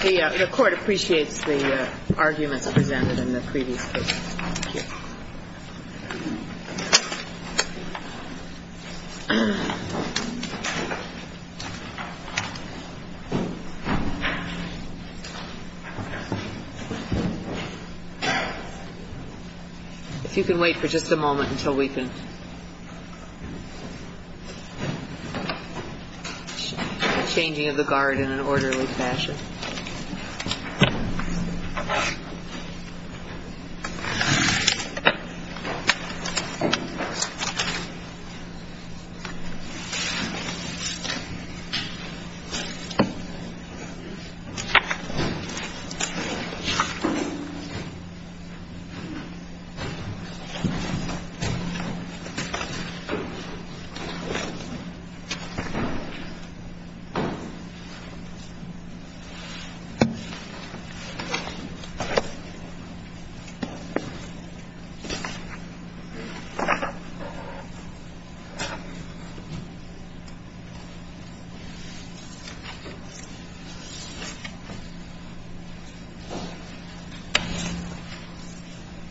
The court appreciates the arguments presented in the previous case. If you can wait for just a moment until we can... The changing of the guard in an orderly fashion.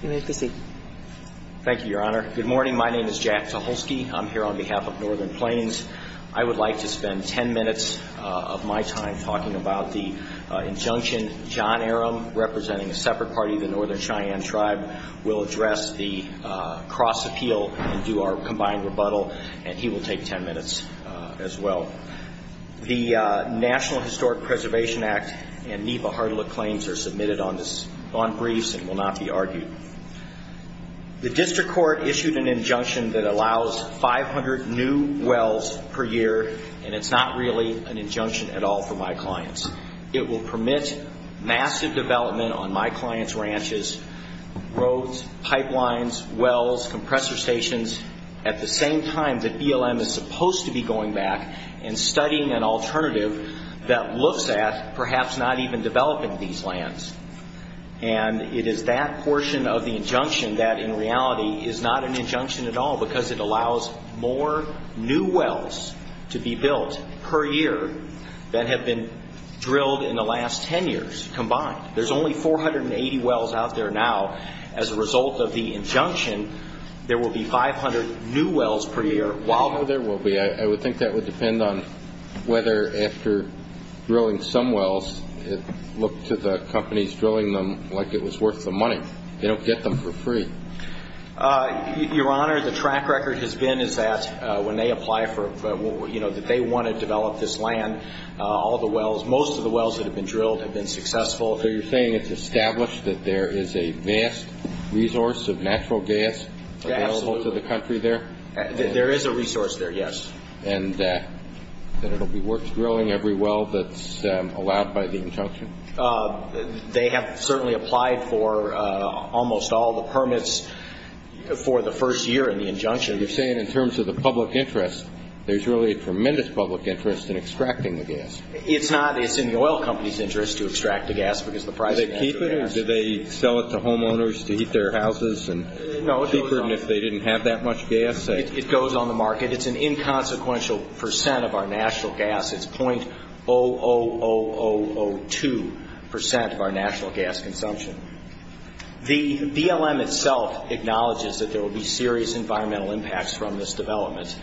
You may proceed. Thank you, Your Honor. Good morning. My name is Jack Tucholsky. I'm here on behalf of Northern Plains. I would like to spend ten minutes of my time talking about the injunction. John Arum, representing a separate party, the Northern Cheyenne Tribe, will address the cross-appeal and do our combined rebuttal. And he will take ten minutes as well. The National Historic Preservation Act and NEPA-Hartlet claims are submitted on briefs and will not be argued. The district court issued an injunction that allows 500 new wells per year, and it's not really an injunction at all for my clients. It will permit massive development on my clients' ranches, roads, pipelines, wells, compressor stations, at the same time that BLM is supposed to be going back and studying an alternative that looks at perhaps not even developing these lands. And it is that portion of the injunction that, in reality, is not an injunction at all because it allows more new wells to be built per year than have been drilled in the last ten years combined. There's only 480 wells out there now. As a result of the injunction, there will be 500 new wells per year. There will be. I would think that would depend on whether, after drilling some wells, it looked to the companies drilling them like it was worth the money. They don't get them for free. Your Honor, the track record has been is that when they apply for, you know, that they want to develop this land, all the wells, most of the wells that have been drilled have been successful. So you're saying it's established that there is a vast resource of natural gas available to the country there? There is a resource there, yes. And that it will be worth drilling every well that's allowed by the injunction? They have certainly applied for almost all the permits for the first year in the injunction. You're saying in terms of the public interest, there's really a tremendous public interest in extracting the gas. It's not. It's in the oil company's interest to extract the gas because the price of natural gas. Do they keep it or do they sell it to homeowners to heat their houses and keep it? Even if they didn't have that much gas? It goes on the market. It's an inconsequential percent of our national gas. It's .00002 percent of our national gas consumption. The BLM itself acknowledges that there will be serious environmental impacts from this development.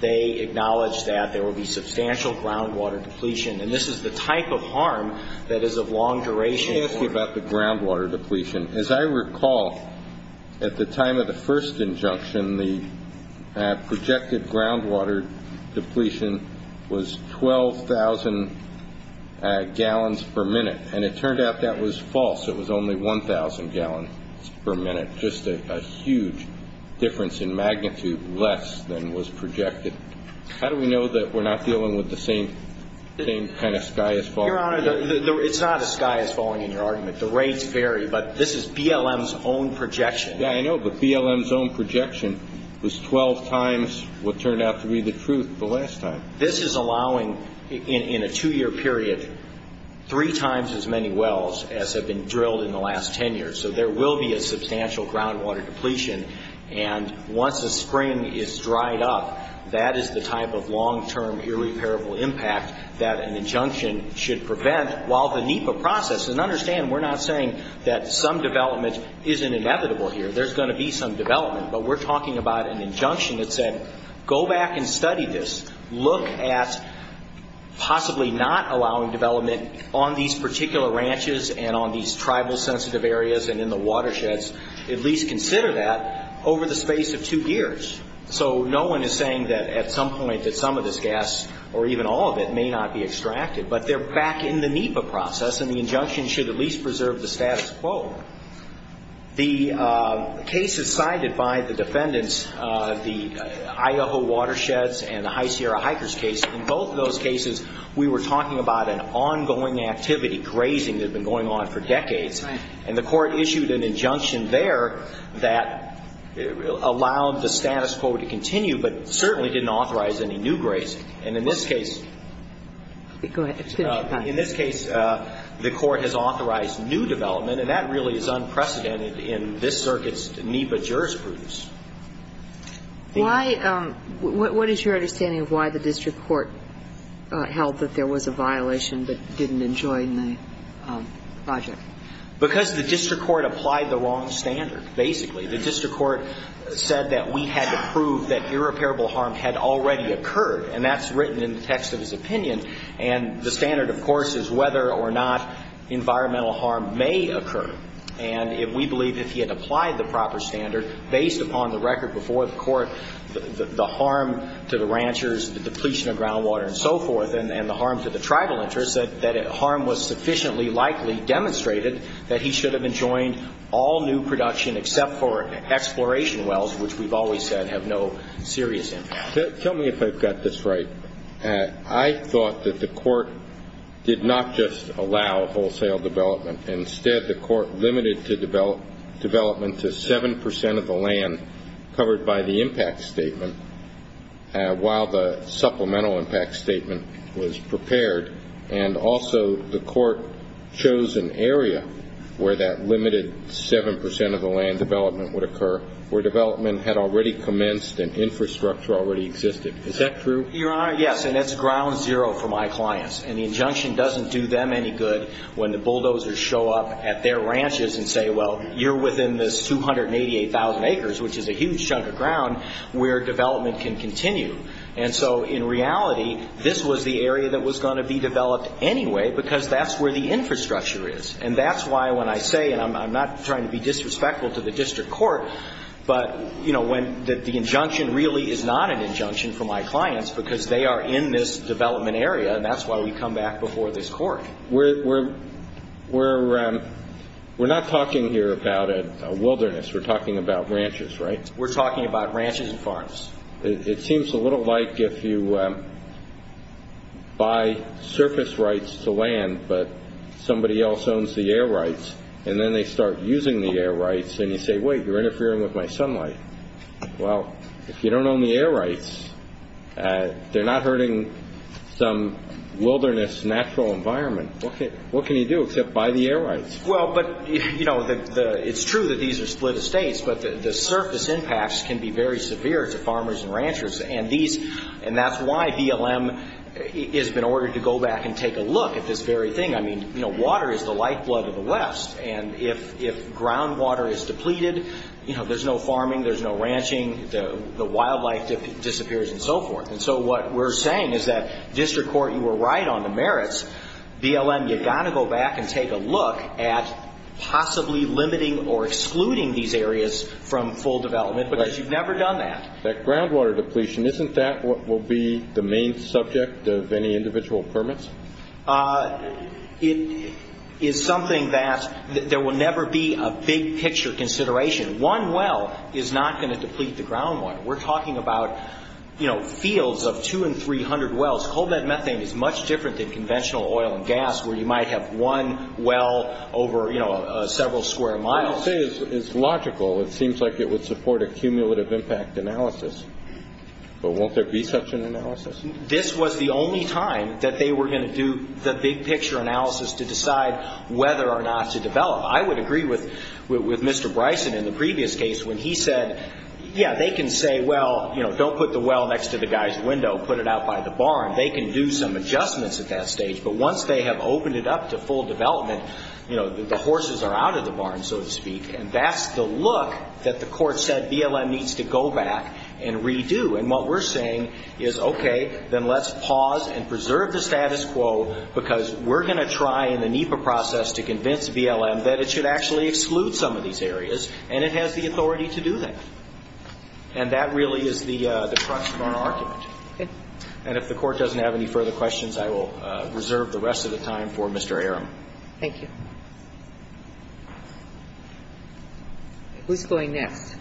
They acknowledge that there will be substantial groundwater depletion, and this is the type of harm that is of long duration. Let me ask you about the groundwater depletion. As I recall, at the time of the first injunction, the projected groundwater depletion was 12,000 gallons per minute, and it turned out that was false. It was only 1,000 gallons per minute, just a huge difference in magnitude, less than was projected. How do we know that we're not dealing with the same kind of sky as falling? Your Honor, it's not a sky as falling in your argument. The rates vary, but this is BLM's own projection. Yeah, I know, but BLM's own projection was 12 times what turned out to be the truth the last time. This is allowing, in a two-year period, three times as many wells as have been drilled in the last 10 years, so there will be a substantial groundwater depletion, and once the spring is dried up, that is the type of long-term irreparable impact that an injunction should prevent. While the NEPA process, and understand we're not saying that some development isn't inevitable here, there's going to be some development, but we're talking about an injunction that said, go back and study this, look at possibly not allowing development on these particular ranches and on these tribal-sensitive areas and in the watersheds. At least consider that over the space of two years, so no one is saying that at some point that some of this gas or even all of it may not be extracted, but they're back in the NEPA process, and the injunction should at least preserve the status quo. The cases cited by the defendants, the Idaho watersheds and the High Sierra hikers case, in both of those cases, we were talking about an ongoing activity, grazing that had been going on for decades, and the court issued an injunction there that allowed the status quo to continue but certainly didn't authorize any new grazing. And in this case the court has authorized new development, and that really is unprecedented in this circuit's NEPA jurisprudence. Why – what is your understanding of why the district court held that there was a violation but didn't enjoin the project? Because the district court applied the wrong standard, basically. The district court said that we had to prove that irreparable harm had already occurred, and that's written in the text of his opinion. And the standard, of course, is whether or not environmental harm may occur. And we believe if he had applied the proper standard, based upon the record before the court, the harm to the ranchers, the depletion of groundwater and so forth, and the harm to the tribal interests, that harm was sufficiently likely demonstrated that he should have enjoined all new production except for exploration wells, which we've always said have no serious impact. Tell me if I've got this right. I thought that the court did not just allow wholesale development. Instead, the court limited development to 7 percent of the land covered by the impact statement while the supplemental impact statement was prepared, and also the court chose an area where that limited 7 percent of the land development would occur, where development had already commenced and infrastructure already existed. Is that true? Your Honor, yes, and that's ground zero for my clients. And the injunction doesn't do them any good when the bulldozers show up at their ranches and say, well, you're within this 288,000 acres, which is a huge chunk of ground, where development can continue. And so in reality, this was the area that was going to be developed anyway because that's where the infrastructure is. And that's why when I say, and I'm not trying to be disrespectful to the district court, but, you know, when the injunction really is not an injunction for my clients because they are in this development area, and that's why we come back before this court. We're not talking here about a wilderness. We're talking about ranches, right? We're talking about ranches and farms. It seems a little like if you buy surface rights to land, but somebody else owns the air rights, and then they start using the air rights, and you say, wait, you're interfering with my sunlight. Well, if you don't own the air rights, they're not hurting some wilderness natural environment. What can you do except buy the air rights? Well, but, you know, it's true that these are split estates, but the surface impacts can be very severe to farmers and ranchers, and that's why BLM has been ordered to go back and take a look at this very thing. I mean, you know, water is the lifeblood of the West, and if groundwater is depleted, you know, there's no farming, there's no ranching, the wildlife disappears and so forth. And so what we're saying is that district court, you were right on the merits. BLM, you've got to go back and take a look at possibly limiting or excluding these areas from full development because you've never done that. That groundwater depletion, isn't that what will be the main subject of any individual permits? It is something that there will never be a big picture consideration. One well is not going to deplete the ground one. We're talking about, you know, fields of 200 and 300 wells. Coal bed methane is much different than conventional oil and gas where you might have one well over, you know, several square miles. What you say is logical. It seems like it would support a cumulative impact analysis, but won't there be such an analysis? This was the only time that they were going to do the big picture analysis to decide whether or not to develop. I would agree with Mr. Bryson in the previous case when he said, yeah, they can say, well, you know, don't put the well next to the guy's window. Put it out by the barn. They can do some adjustments at that stage. But once they have opened it up to full development, you know, the horses are out of the barn, so to speak. And that's the look that the court said BLM needs to go back and redo. And what we're saying is, okay, then let's pause and preserve the status quo because we're going to try in the NEPA process to convince BLM that it should actually exclude some of these areas, and it has the authority to do that. And that really is the crux of our argument. Okay. And if the Court doesn't have any further questions, I will reserve the rest of the time for Mr. Aram. Thank you. Who's going next?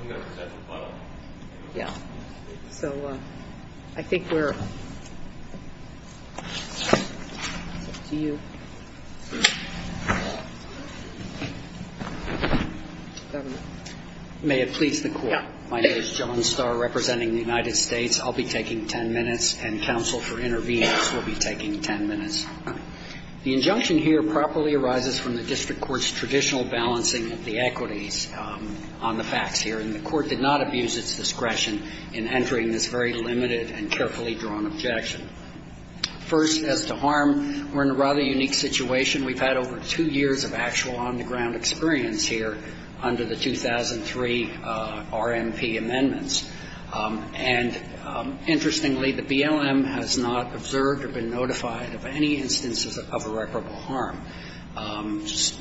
I'm going to present the button. Yeah. So I think we're up to you. May it please the Court. My name is John Starr, representing the United States. I'll be taking ten minutes, and counsel for interveners will be taking ten minutes. The injunction here properly arises from the district court's traditional balancing of the equities on the facts here, and the court did not abuse its discretion in entering this very limited and carefully drawn objection. First, as to harm, we're in a rather unique situation. We've had over two years of actual on-the-ground experience here under the 2003 RMP amendments. And interestingly, the BLM has not observed or been notified of any instances of irreparable harm.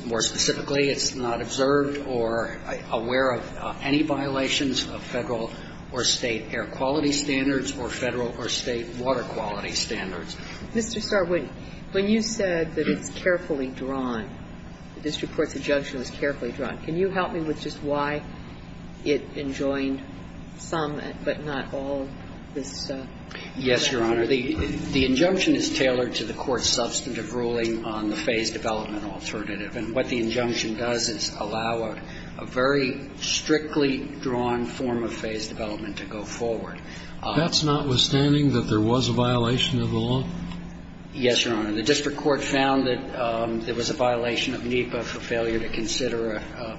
More specifically, it's not observed or aware of any violations of Federal or State air quality standards or Federal or State water quality standards. Mr. Starr, when you said that it's carefully drawn, the district court's injunction is carefully drawn, can you help me with just why it enjoined some but not all this? Yes, Your Honor. The injunction is tailored to the court's substantive ruling on the phase development alternative. And what the injunction does is allow a very strictly drawn form of phase development to go forward. That's notwithstanding that there was a violation of the law? Yes, Your Honor. The district court found that there was a violation of NEPA for failure to consider a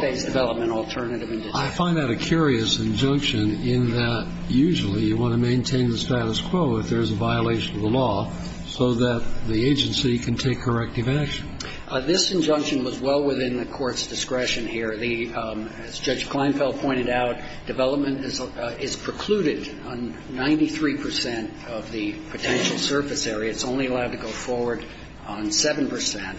phase development alternative. I find that a curious injunction in that usually you want to maintain the status quo if there's a violation of the law so that the agency can take corrective action. This injunction was well within the court's discretion here. As Judge Kleinfeld pointed out, development is precluded on 93 percent of the potential surface area. It's only allowed to go forward on 7 percent.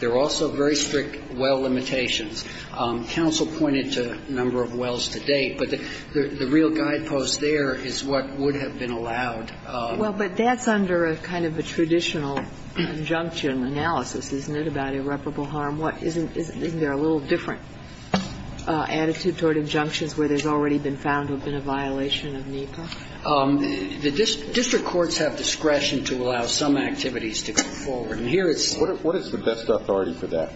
There are also very strict well limitations. Counsel pointed to a number of wells to date, but the real guidepost there is what would have been allowed. Well, but that's under a kind of a traditional injunction analysis, isn't it, about irreparable harm? Isn't there a little different attitude toward injunctions where there's already been found to have been a violation of NEPA? The district courts have discretion to allow some activities to go forward. And here it's the best authority for that.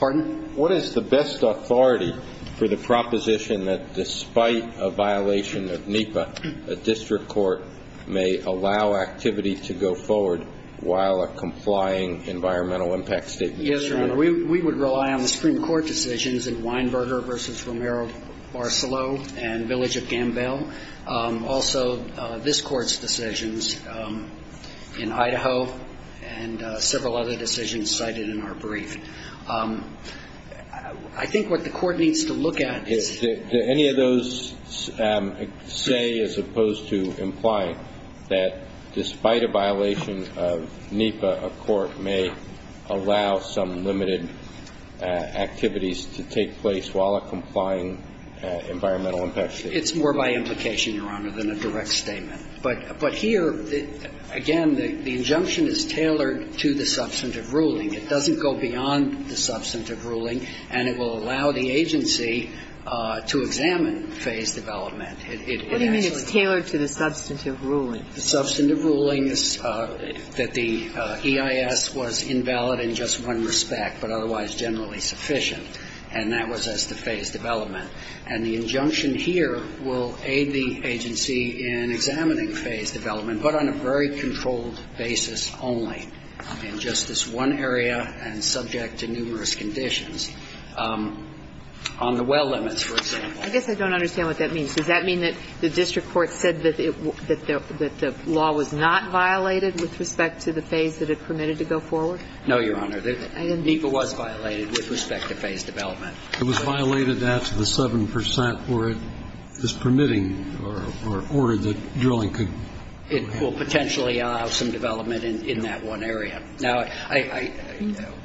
Pardon? What is the best authority for the proposition that despite a violation of NEPA, a district court may allow activity to go forward while a complying environmental impact statement is true? Yes, Your Honor. We would rely on the Supreme Court decisions in Weinberger v. Romero-Barcelo and Village of Gambell. Also, this Court's decisions in Idaho and several other decisions cited in our brief. I think what the Court needs to look at is the Does any of those say as opposed to imply that despite a violation of NEPA, a court may allow some limited activities to take place while a complying environmental impact statement? It's more by implication, Your Honor, than a direct statement. But here, again, the injunction is tailored to the substantive ruling. It doesn't go beyond the substantive ruling. And it will allow the agency to examine phased development. It actually What do you mean it's tailored to the substantive ruling? The substantive ruling is that the EIS was invalid in just one respect, but otherwise generally sufficient. And that was as to phased development. And the injunction here will aid the agency in examining phased development, but on a very controlled basis only in just this one area and subject to numerous conditions. On the well limits, for example. I guess I don't understand what that means. Does that mean that the district court said that the law was not violated with respect to the phase that it permitted to go forward? No, Your Honor. NEPA was violated with respect to phased development. It was violated after the 7 percent where it was permitting or ordered that drilling could go ahead. It will potentially allow some development in that one area. Now,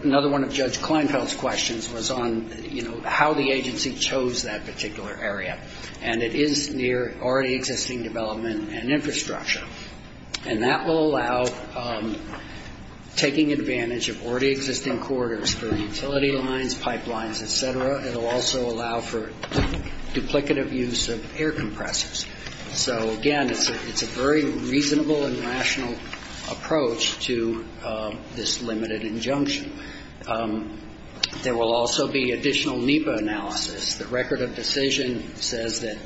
another one of Judge Kleinfeld's questions was on how the agency chose that particular area. And it is near already existing development and infrastructure. And that will allow taking advantage of already existing corridors for utility lines, pipelines, et cetera. It will also allow for duplicative use of air compressors. So, again, it's a very reasonable and rational approach to this limited injunction. There will also be additional NEPA analysis. The record of decision says that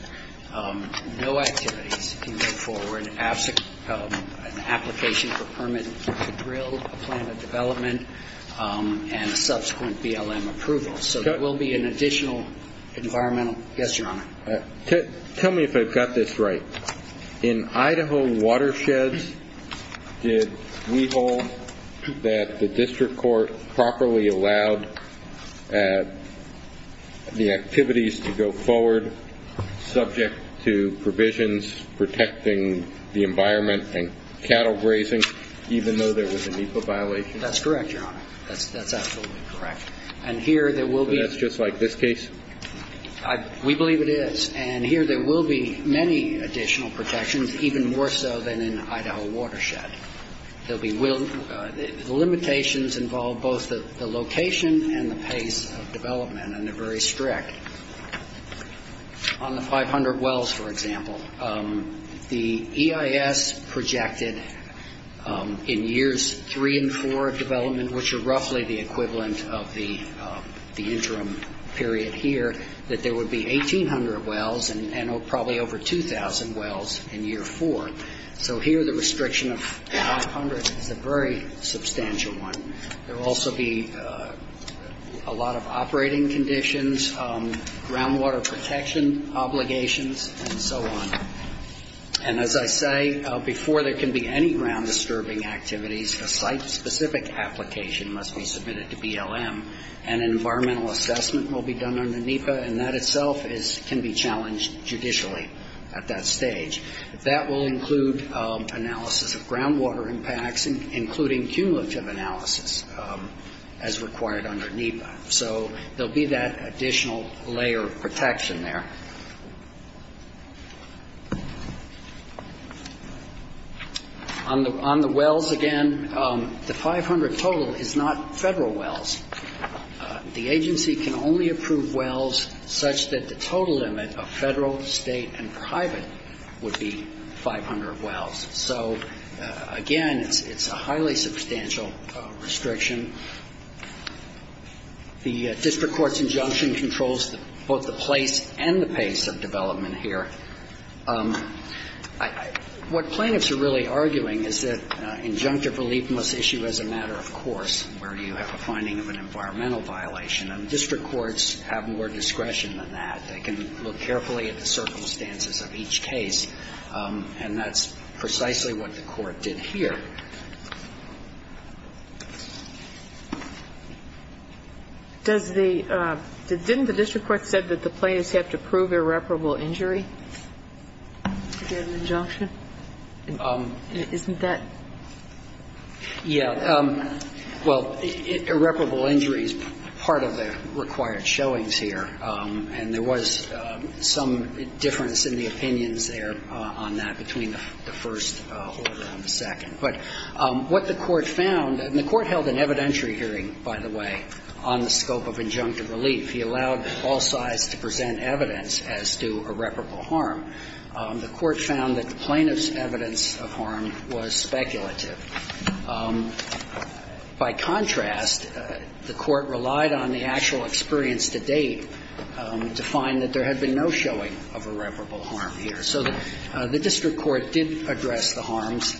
no activities can go forward, an application for permit to drill, a plan of development, and a subsequent BLM approval. So there will be an additional environmental. Yes, Your Honor. Tell me if I've got this right. In Idaho watersheds, did we hold that the district court properly allowed the activities to go forward subject to provisions protecting the environment and cattle grazing, even though there was a NEPA violation? That's correct, Your Honor. That's absolutely correct. And here there will be. So that's just like this case? We believe it is. And here there will be many additional protections, even more so than in Idaho watershed. The limitations involve both the location and the pace of development, and they're very strict. On the 500 wells, for example, the EIS projected in years three and four of development, which are roughly the equivalent of the interim period here, that there would be 1,800 wells and probably over 2,000 wells in year four. So here the restriction of 500 is a very substantial one. There will also be a lot of operating conditions, groundwater protection obligations, and so on. And as I say, before there can be any ground-disturbing activities, a site-specific application must be submitted to BLM. An environmental assessment will be done under NEPA, and that itself can be challenged judicially at that stage. That will include analysis of groundwater impacts, including cumulative analysis as required under NEPA. So there will be that additional layer of protection there. On the wells, again, the 500 total is not Federal wells. The agency can only approve wells such that the total limit of Federal, State, and private would be 500 wells. So, again, it's a highly substantial restriction. The district court's injunction controls both the place and the pace of development here. What plaintiffs are really arguing is that injunctive relief must issue as a matter of course where you have a finding of an environmental violation. And district courts have more discretion than that. They can look carefully at the circumstances of each case, and that's precisely what the court did here. Didn't the district court say that the plaintiffs have to prove irreparable injury to get an injunction? Isn't that? Yeah. Well, irreparable injury is part of the required showings here, and there was some difference in the opinions there on that between the first order and the second. But what the court found, and the court held an evidentiary hearing, by the way, on the scope of injunctive relief. He allowed all sides to present evidence as to irreparable harm. The court found that the plaintiff's evidence of harm was speculative. By contrast, the court relied on the actual experience to date to find that there had been no showing of irreparable harm here. So the district court did address the harms.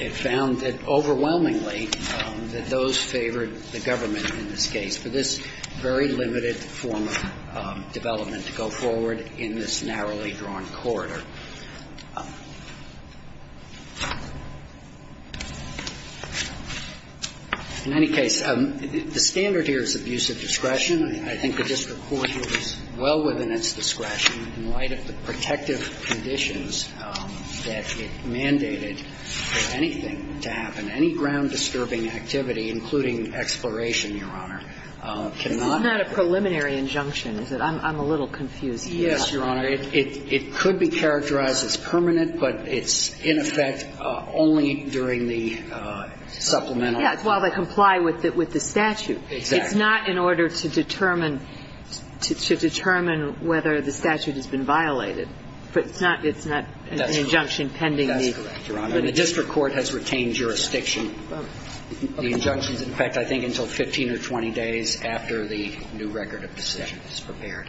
It found that overwhelmingly that those favored the government in this case for this very limited form of development to go forward in this narrowly drawn corridor. In any case, the standard here is abuse of discretion. I think the district court was well within its discretion in light of the protective conditions that it mandated for anything to happen. Any ground-disturbing activity, including exploration, Your Honor, cannot be. This is not a preliminary injunction, is it? I'm a little confused here. Yes, Your Honor. It could be characterized as permanent, but it's in effect only during the supplemental time. Yeah, while they comply with the statute. Exactly. It's not in order to determine whether the statute has been violated. It's not an injunction pending. That's correct, Your Honor. The district court has retained jurisdiction. The injunctions, in fact, I think until 15 or 20 days after the new record of decision is prepared.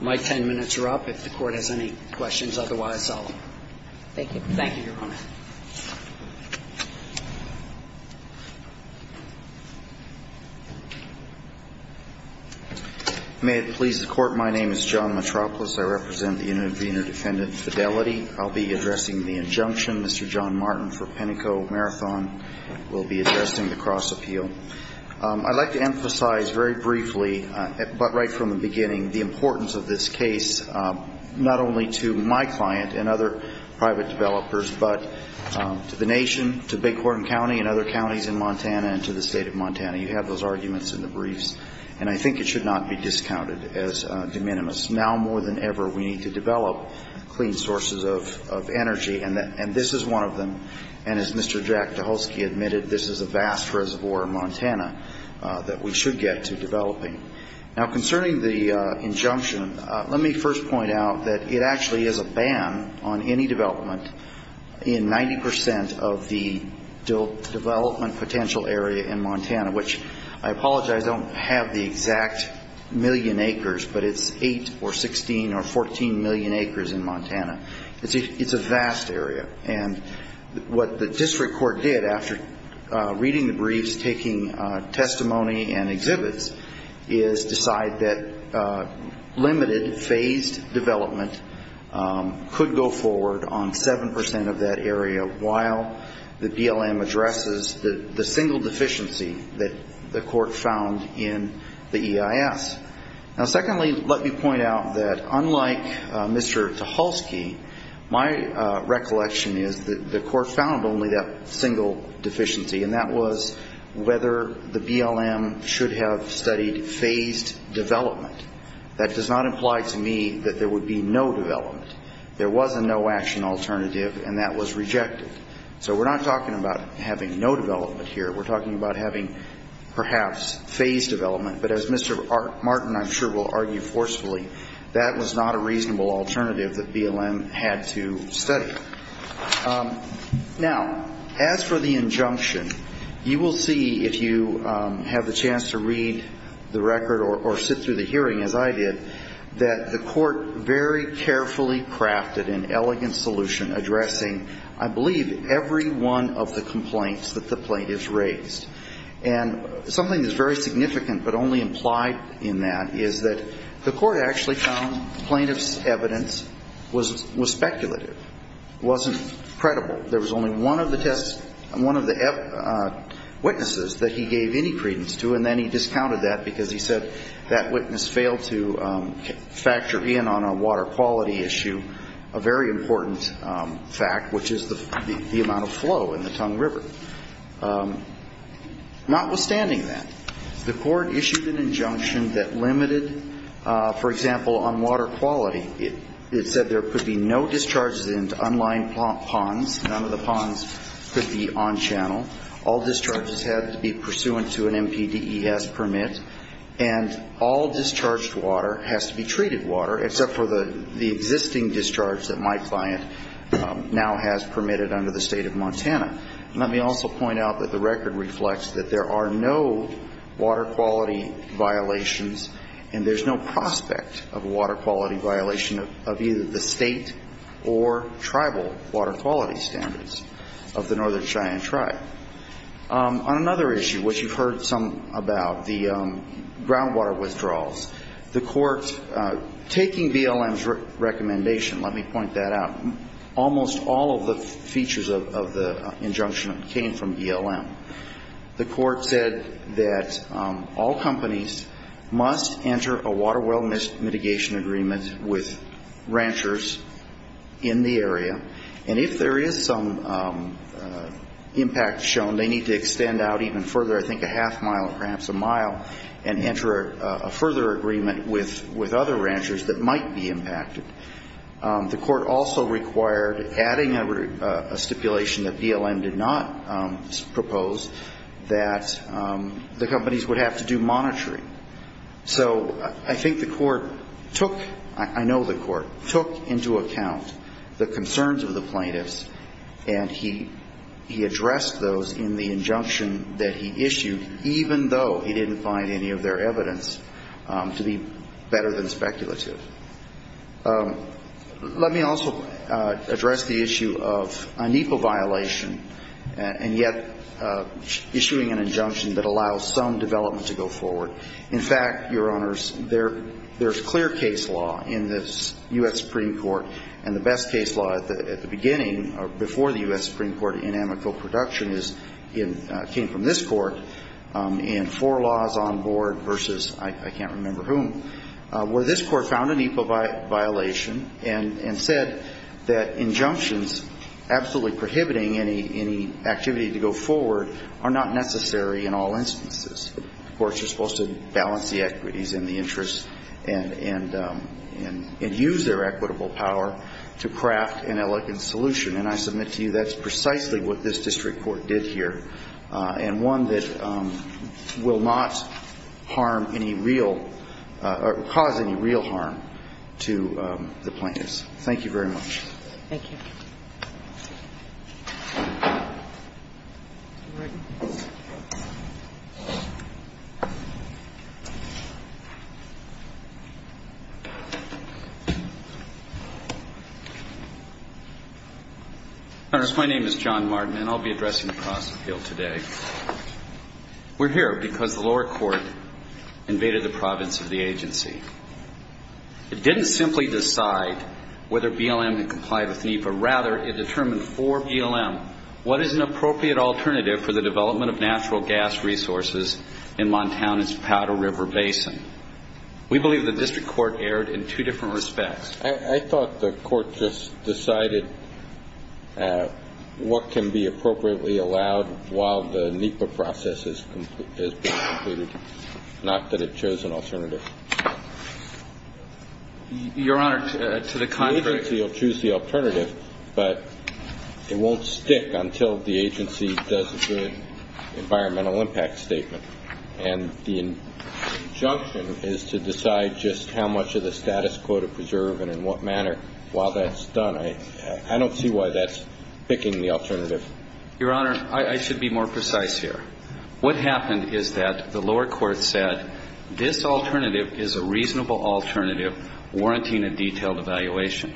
My 10 minutes are up. If the court has any questions, otherwise I'll. Thank you. Thank you, Your Honor. May it please the Court, my name is John Matropoulos. I represent the Innovena Defendant Fidelity. I'll be addressing the injunction. Mr. John Martin for Pinnacle Marathon will be addressing the cross-appeal. I'd like to emphasize very briefly, but right from the beginning, the importance of this case, not only to my client and other private developers, but to all of the public, to the nation, to Bighorn County and other counties in Montana and to the state of Montana. You have those arguments in the briefs, and I think it should not be discounted as de minimis. Now, more than ever, we need to develop clean sources of energy, and this is one of them. And as Mr. Jack Tucholsky admitted, this is a vast reservoir in Montana that we should get to developing. Now, concerning the injunction, let me first point out that it actually is a ban on any development in 90 percent of the development potential area in Montana, which I apologize, I don't have the exact million acres, but it's 8 or 16 or 14 million acres in Montana. It's a vast area. And what the district court did after reading the briefs, taking testimony and reporting to the district court on 7 percent of that area while the BLM addresses the single deficiency that the court found in the EIS. Now, secondly, let me point out that unlike Mr. Tucholsky, my recollection is that the court found only that single deficiency, and that was whether the BLM should have studied phased development. That does not imply to me that there would be no development. There was a no-action alternative, and that was rejected. So we're not talking about having no development here. We're talking about having perhaps phased development. But as Mr. Martin, I'm sure, will argue forcefully, that was not a reasonable alternative that BLM had to study. Now, as for the injunction, you will see if you have the chance to read the record or sit through the hearing, as I did, that the court very carefully crafted an elegant solution addressing, I believe, every one of the complaints that the plaintiffs raised. And something that's very significant but only implied in that is that the court actually found plaintiff's evidence was speculative, wasn't credible. There was only one of the witnesses that he gave any credence to, and then he discounted that because he said that witness failed to factor in on a water quality issue a very important fact, which is the amount of flow in the Tongue River. Notwithstanding that, the court issued an injunction that limited, for example, on water quality. It said there could be no discharges into unlined ponds. None of the ponds could be on channel. All discharges had to be pursuant to an MPDES permit. And all discharged water has to be treated water, except for the existing discharge that my client now has permitted under the State of Montana. Let me also point out that the record reflects that there are no water quality violations, and there's no prospect of a water quality violation of either the State or tribal water quality standards of the Northern Cheyenne Tribe. On another issue, which you've heard some about, the groundwater withdrawals, the court, taking BLM's recommendation, let me point that out, almost all of the features of the injunction came from BLM. The court said that all companies must enter a water well mitigation agreement with ranchers in the area, and if there is some impact shown, they need to extend out even further, I think a half mile or perhaps a mile, and enter a further agreement with other ranchers that might be impacted. The court also required, adding a stipulation that BLM did not propose, that the companies would have to do monitoring. So I think the court took, I know the court, took into account the concerns of the plaintiffs, and he addressed those in the injunction that he issued, even though he didn't find any of their evidence to be better than speculative. Let me also address the issue of a NEPA violation, and yet issuing an injunction that allows some development to go forward. In fact, Your Honors, there's clear case law in this U.S. Supreme Court, and the best case law at the beginning, or before the U.S. Supreme Court in amico production is in, came from this court, and four laws on board versus I can't remember whom, where this court found a NEPA violation and said that injunctions absolutely prohibiting any activity to go forward are not necessary in all cases in all instances. Courts are supposed to balance the equities and the interests and use their equitable power to craft an elegant solution. And I submit to you that's precisely what this district court did here, and one that will not harm any real, or cause any real harm to the plaintiffs. Thank you very much. Thank you. Your Honors, my name is John Martin, and I'll be addressing the cross-appeal today. We're here because the lower court invaded the province of the agency. It didn't simply decide whether BLM could comply with NEPA. Rather, it determined for BLM what is an appropriate alternative for the development of natural gas resources in Montana's Powder River Basin. We believe the district court erred in two different respects. I thought the court just decided what can be appropriately allowed while the NEPA process has been completed, not that it chose an alternative. Your Honor, to the contrary. The agency will choose the alternative, but it won't stick until the agency does a good environmental impact statement. And the injunction is to decide just how much of the status quo to preserve and in what manner while that's done. I don't see why that's picking the alternative. Your Honor, I should be more precise here. What happened is that the lower court said this alternative is a reasonable alternative warranting a detailed evaluation.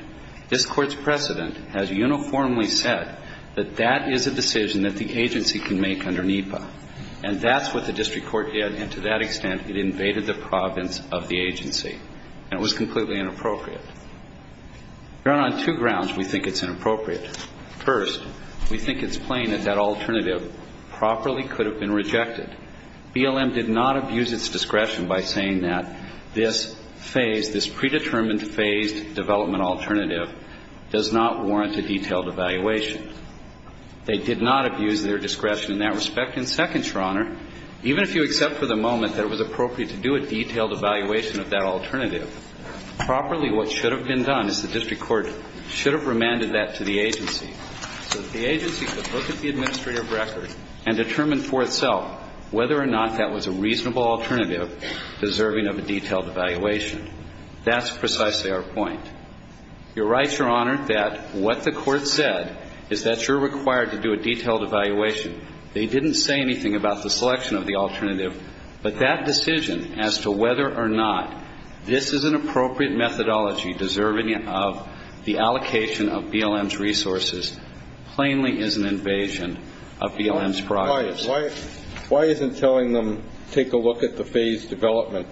This court's precedent has uniformly said that that is a decision that the agency can make under NEPA. And that's what the district court did. And to that extent, it invaded the province of the agency. And it was completely inappropriate. Your Honor, on two grounds we think it's inappropriate. First, we think it's plain that that alternative properly could have been rejected. BLM did not abuse its discretion by saying that this phase, this predetermined phased development alternative does not warrant a detailed evaluation. They did not abuse their discretion in that respect. And second, Your Honor, even if you accept for the moment that it was appropriate to do a detailed evaluation of that alternative, properly what should have been done is the district court should have remanded that to the agency so that the agency could look at the administrative record and determine for itself whether or not that was a reasonable alternative deserving of a detailed evaluation. That's precisely our point. You're right, Your Honor, that what the court said is that you're required to do a detailed evaluation. They didn't say anything about the selection of the alternative. But that decision as to whether or not this is an appropriate methodology deserving of the allocation of BLM's resources plainly is an invasion of BLM's progress. Why isn't telling them take a look at the phased development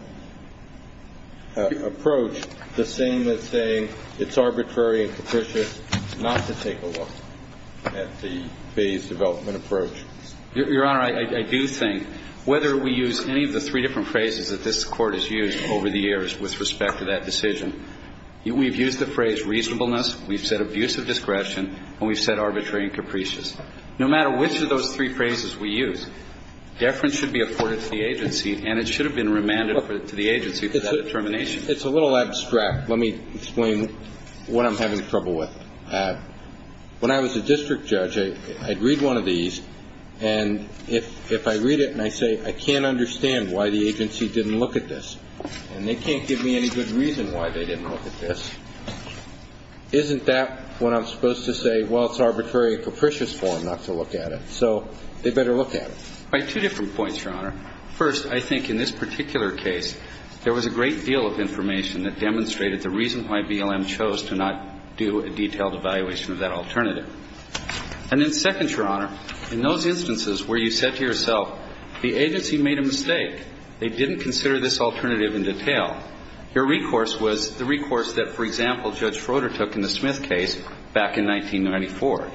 approach the same as saying it's arbitrary and capricious not to take a look at the phased development approach? Your Honor, I do think whether we use any of the three different phrases that this we've used the phrase reasonableness, we've said abusive discretion, and we've said arbitrary and capricious. No matter which of those three phrases we use, deference should be afforded to the agency, and it should have been remanded to the agency for that determination. It's a little abstract. Let me explain what I'm having trouble with. When I was a district judge, I'd read one of these, and if I read it and I say I can't understand why the agency didn't look at this, and they can't give me any good reason why they didn't look at this, isn't that when I'm supposed to say, well, it's arbitrary and capricious for them not to look at it? So they better look at it. Right. Two different points, Your Honor. First, I think in this particular case, there was a great deal of information that demonstrated the reason why BLM chose to not do a detailed evaluation of that alternative. And then second, Your Honor, in those instances where you said to yourself, the agency made a mistake. They didn't consider this alternative in detail. Your recourse was the recourse that, for example, Judge Froder took in the Smith case back in 1994.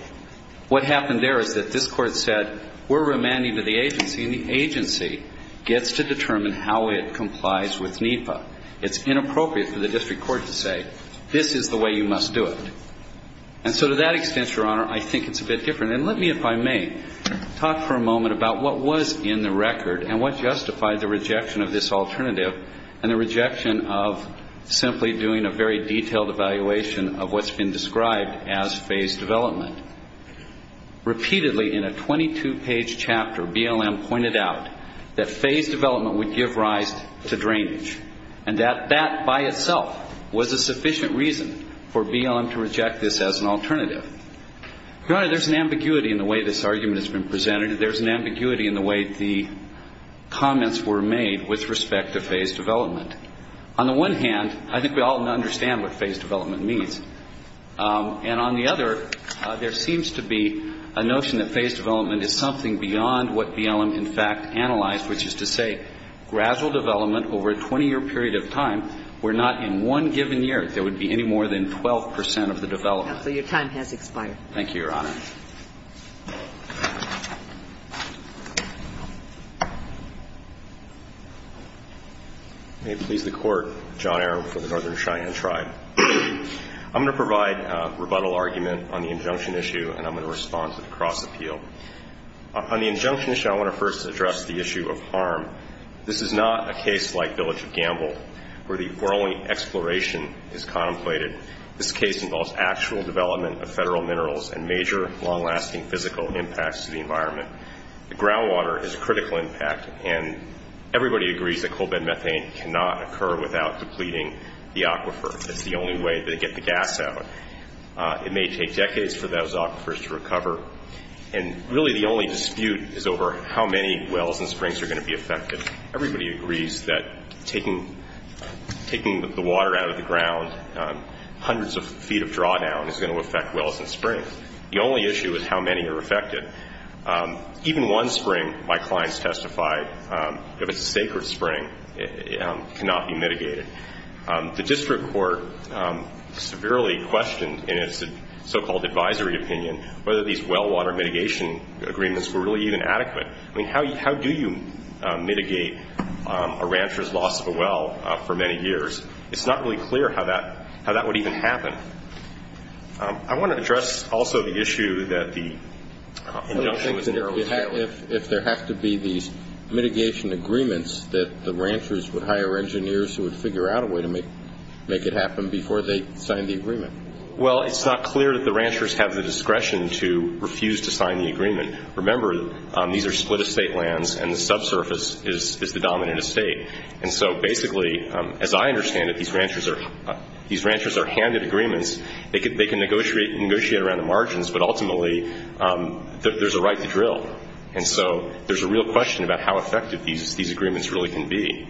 What happened there is that this court said, we're remanding to the agency, and the agency gets to determine how it complies with NEPA. It's inappropriate for the district court to say, this is the way you must do it. And so to that extent, Your Honor, I think it's a bit different. And let me, if I may, talk for a moment about what was in the record and what justified the rejection of this alternative and the rejection of simply doing a very detailed evaluation of what's been described as phased development. Repeatedly in a 22-page chapter, BLM pointed out that phased development would give rise to drainage, and that that by itself was a sufficient reason for BLM to reject this as an alternative. Your Honor, there's an ambiguity in the way this argument has been presented. There's an ambiguity in the way the comments were made with respect to phased development. On the one hand, I think we all understand what phased development means. And on the other, there seems to be a notion that phased development is something beyond what BLM in fact analyzed, which is to say gradual development over a 20-year period of time where not in one given year there would be any more than 12 percent of the development. So your time has expired. Thank you, Your Honor. May it please the Court, John Arum for the Northern Cheyenne Tribe. I'm going to provide a rebuttal argument on the injunction issue, and I'm going to respond to the cross-appeal. On the injunction issue, I want to first address the issue of harm. This is not a case like Village of Gamble where only exploration is contemplated. This case involves actual development of federal minerals and major long-lasting physical impacts to the environment. The groundwater is a critical impact, and everybody agrees that coal bed methane cannot occur without depleting the aquifer. It's the only way they get the gas out. It may take decades for those aquifers to recover. And really the only dispute is over how many wells and springs are going to be affected. Everybody agrees that taking the water out of the ground hundreds of feet of drawdown is going to affect wells and springs. The only issue is how many are affected. Even one spring, my clients testified, if it's a sacred spring, cannot be mitigated. The district court severely questioned in its so-called advisory opinion whether these well water mitigation agreements were really even adequate. I mean, how do you mitigate a rancher's loss of a well for many years? It's not really clear how that would even happen. I want to address also the issue that the injunction was narrowly tailored. If there have to be these mitigation agreements that the ranchers would hire engineers who would figure out a way to make it happen before they sign the agreement. Well, it's not clear that the ranchers have the discretion to refuse to sign the agreement. Remember, these are split estate lands and the subsurface is the dominant estate. And so basically, as I understand it, these ranchers are handed agreements. They can negotiate around the margins, but ultimately there's a right to drill. And so there's a real question about how effective these agreements really can be.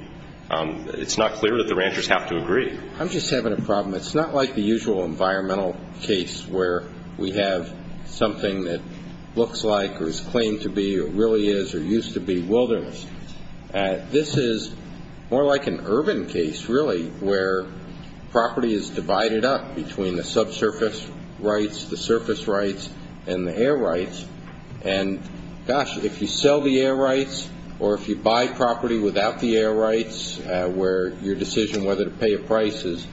It's not clear that the ranchers have to agree. I'm just having a problem. It's not like the usual environmental case where we have something that looks like or is claimed to be or really is or used to be wilderness. This is more like an urban case really where property is divided up between the subsurface rights, the surface rights, and the air rights. And, gosh, if you sell the air rights or if you buy property without the air rights your decision whether to pay a price is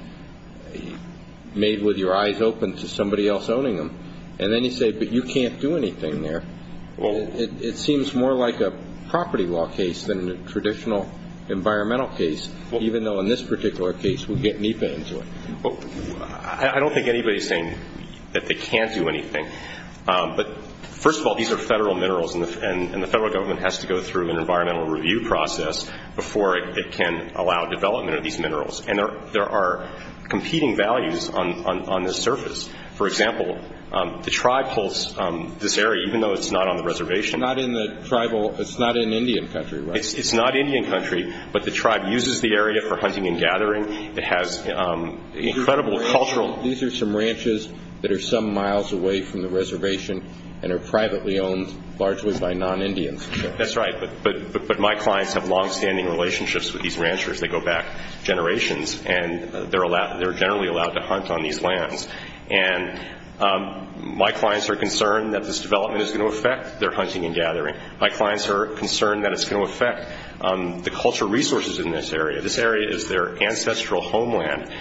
made with your eyes open to somebody else owning them. And then you say, but you can't do anything there. It seems more like a property law case than a traditional environmental case, even though in this particular case we get NEPA into it. I don't think anybody is saying that they can't do anything. But, first of all, these are federal minerals, and the federal government has to go through an environmental review process before it can allow development of these minerals. And there are competing values on this surface. For example, the tribe holds this area, even though it's not on the reservation. It's not in Indian country, right? It's not Indian country, but the tribe uses the area for hunting and gathering. It has incredible cultural. These are some ranches that are some miles away from the reservation and are privately owned largely by non-Indians. That's right, but my clients have longstanding relationships with these ranchers. They go back generations, and they're generally allowed to hunt on these lands. And my clients are concerned that this development is going to affect their hunting and gathering. My clients are concerned that it's going to affect the cultural resources in this area. This area is their ancestral homeland.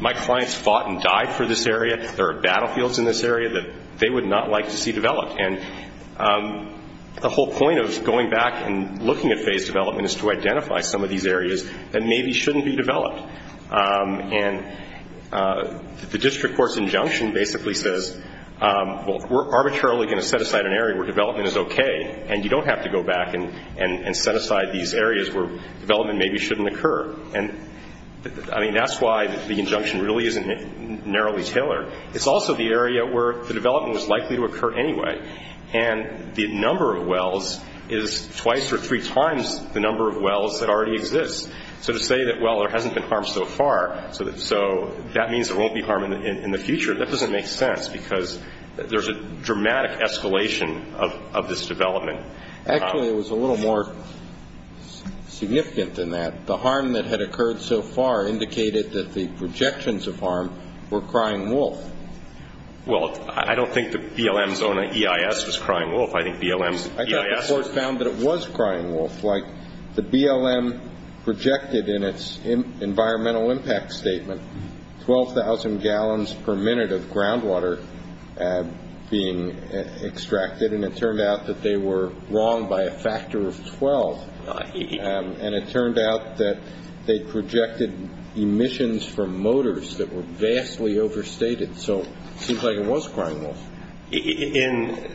My clients fought and died for this area. There are battlefields in this area that they would not like to see developed. And the whole point of going back and looking at phased development is to identify some of these areas that maybe shouldn't be developed. And the district court's injunction basically says, well, we're arbitrarily going to set aside an area where development is okay, and you don't have to go back and set aside these areas where development maybe shouldn't occur. And, I mean, that's why the injunction really isn't narrowly tailored. It's also the area where the development was likely to occur anyway. And the number of wells is twice or three times the number of wells that already exist. So to say that, well, there hasn't been harm so far, so that means there won't be harm in the future, that doesn't make sense because there's a dramatic escalation of this development. Actually, it was a little more significant than that. The harm that had occurred so far indicated that the projections of harm were crying wolf. Well, I don't think the BLM's own EIS was crying wolf. I think BLM's EIS was. I thought the court found that it was crying wolf. Like the BLM projected in its environmental impact statement 12,000 gallons per minute of groundwater being extracted, and it turned out that they were wrong by a factor of 12. And it turned out that they projected emissions from motors that were vastly overstated. So it seems like it was crying wolf. In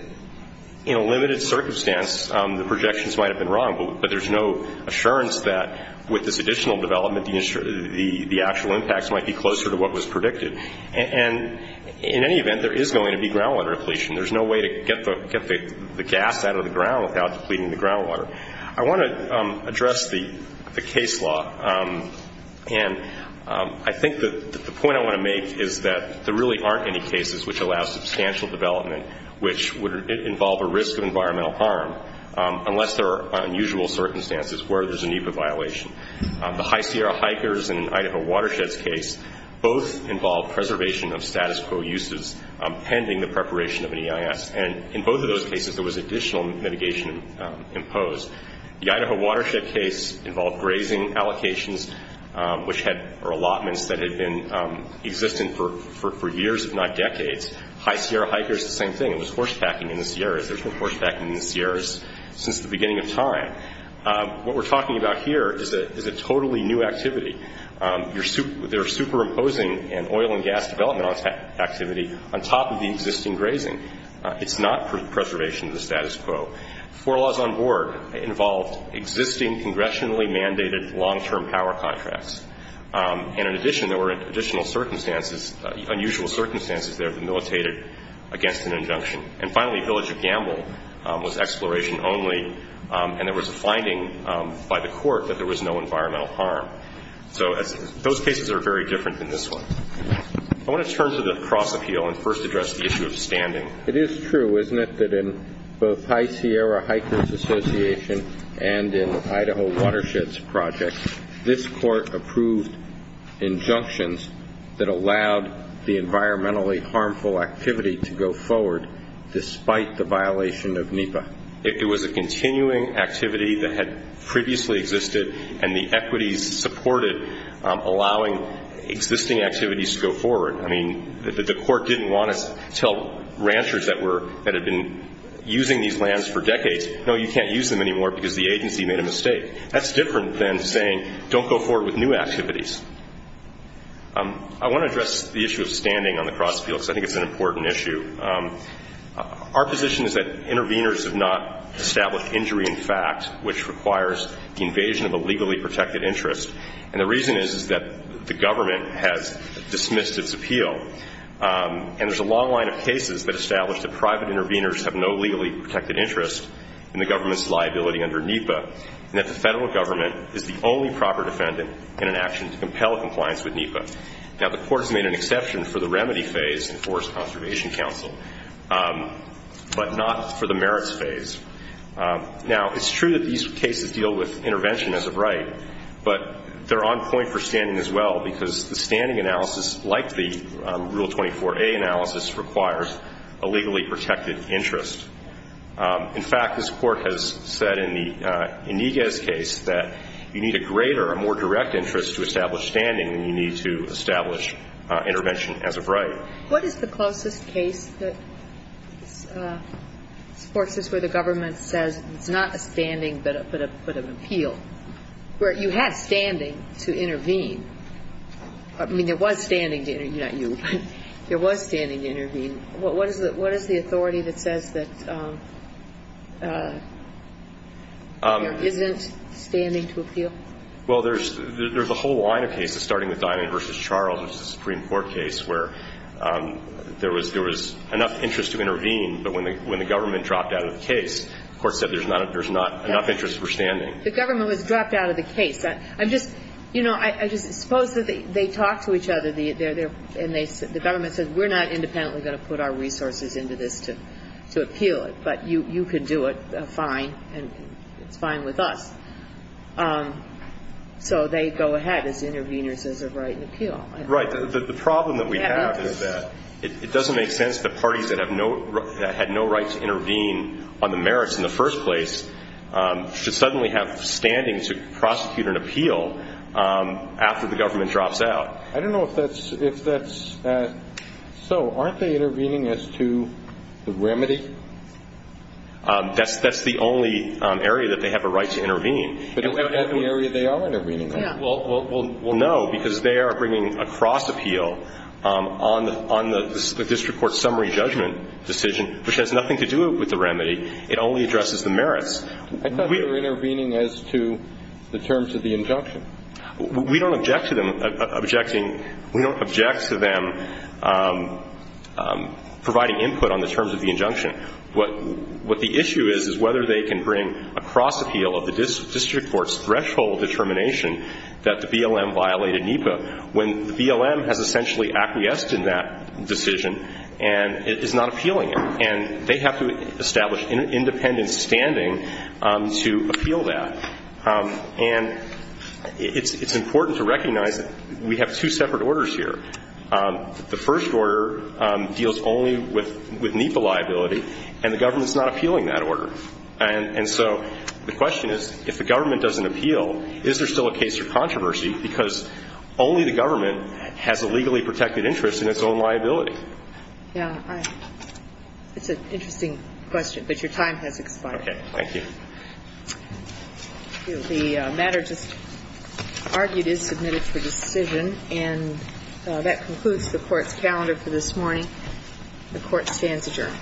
a limited circumstance, the projections might have been wrong, but there's no assurance that with this additional development, the actual impacts might be closer to what was predicted. And in any event, there is going to be groundwater depletion. There's no way to get the gas out of the ground without depleting the groundwater. I want to address the case law. And I think that the point I want to make is that there really aren't any cases which allow substantial development which would involve a risk of environmental harm unless there are unusual circumstances where there's an EPA violation. The High Sierra hikers and Idaho watersheds case both involved preservation of status quo uses pending the preparation of an EIS. And in both of those cases, there was additional mitigation imposed. The Idaho watershed case involved grazing allocations, which had allotments that had been existent for years, if not decades. High Sierra hikers, the same thing. It was horsebacking in the Sierras. There's been horsebacking in the Sierras since the beginning of time. What we're talking about here is a totally new activity. They're superimposing an oil and gas development activity on top of the existing grazing. It's not preservation of the status quo. Four laws on board involved existing congressionally mandated long-term power contracts. And in addition, there were additional circumstances, unusual circumstances there that militated against an injunction. And finally, Village of Gamble was exploration only, and there was a finding by the court that there was no environmental harm. So those cases are very different than this one. I want to turn to the cross appeal and first address the issue of standing. It is true, isn't it, that in both High Sierra Hikers Association and in Idaho Watersheds Project, this court approved injunctions that allowed the environmentally harmful activity to go forward despite the violation of NEPA? If there was a continuing activity that had previously existed and the equities supported allowing existing activities to go forward. I mean, the court didn't want us to tell ranchers that had been using these lands for decades, no, you can't use them anymore because the agency made a mistake. That's different than saying don't go forward with new activities. I want to address the issue of standing on the cross appeal because I think it's an important issue. Our position is that interveners have not established injury in fact, which requires the invasion of a legally protected interest. And the reason is that the government has dismissed its appeal. And there's a long line of cases that establish that private interveners have no legally protected interest in the government's liability under NEPA, and that the federal government is the only proper defendant in an action to compel compliance with NEPA. Now, the court has made an exception for the remedy phase in Forest Conservation Council, but not for the merits phase. Now, it's true that these cases deal with intervention as a right, but they're on point for standing as well because the standing analysis, like the Rule 24a analysis, requires a legally protected interest. In fact, this Court has said in the Iniguez case that you need a greater, a more direct interest to establish standing than you need to establish intervention as a right. What is the closest case that supports this where the government says it's not a standing but an appeal, where you have standing to intervene? I mean, there was standing to intervene, not you, but there was standing to intervene. What is the authority that says that there isn't standing to appeal? Well, there's a whole line of cases, starting with Dinan v. Charles, which is a Supreme Court case, where there was enough interest to intervene, but when the government dropped out of the case, the Court said there's not enough interest for standing. The government was dropped out of the case. I'm just, you know, I just suppose that they talk to each other, and the government says we're not independently going to put our resources into this to appeal it, but you can do it fine, and it's fine with us. So they go ahead as interveners as a right and appeal. Right. The problem that we have is that it doesn't make sense that parties that had no right to intervene on the merits in the first place should suddenly have standing to prosecute an appeal after the government drops out. I don't know if that's so. Aren't they intervening as to the remedy? That's the only area that they have a right to intervene. But isn't that the area they are intervening on? Well, no, because they are bringing a cross appeal on the district court summary judgment decision, which has nothing to do with the remedy. It only addresses the merits. I thought they were intervening as to the terms of the injunction. We don't object to them providing input on the terms of the injunction. What the issue is is whether they can bring a cross appeal of the district court's threshold determination that the BLM violated NEPA when the BLM has essentially acquiesced in that decision and is not appealing it, and they have to establish independent standing to appeal that. And it's important to recognize that we have two separate orders here. The first order deals only with NEPA liability, and the government is not appealing that order. And so the question is, if the government doesn't appeal, is there still a case for controversy? Because only the government has a legally protected interest in its own liability. Yeah. It's an interesting question, but your time has expired. Okay. Thank you. The matter just argued is submitted for decision. And that concludes the Court's calendar for this morning. The Court stands adjourned.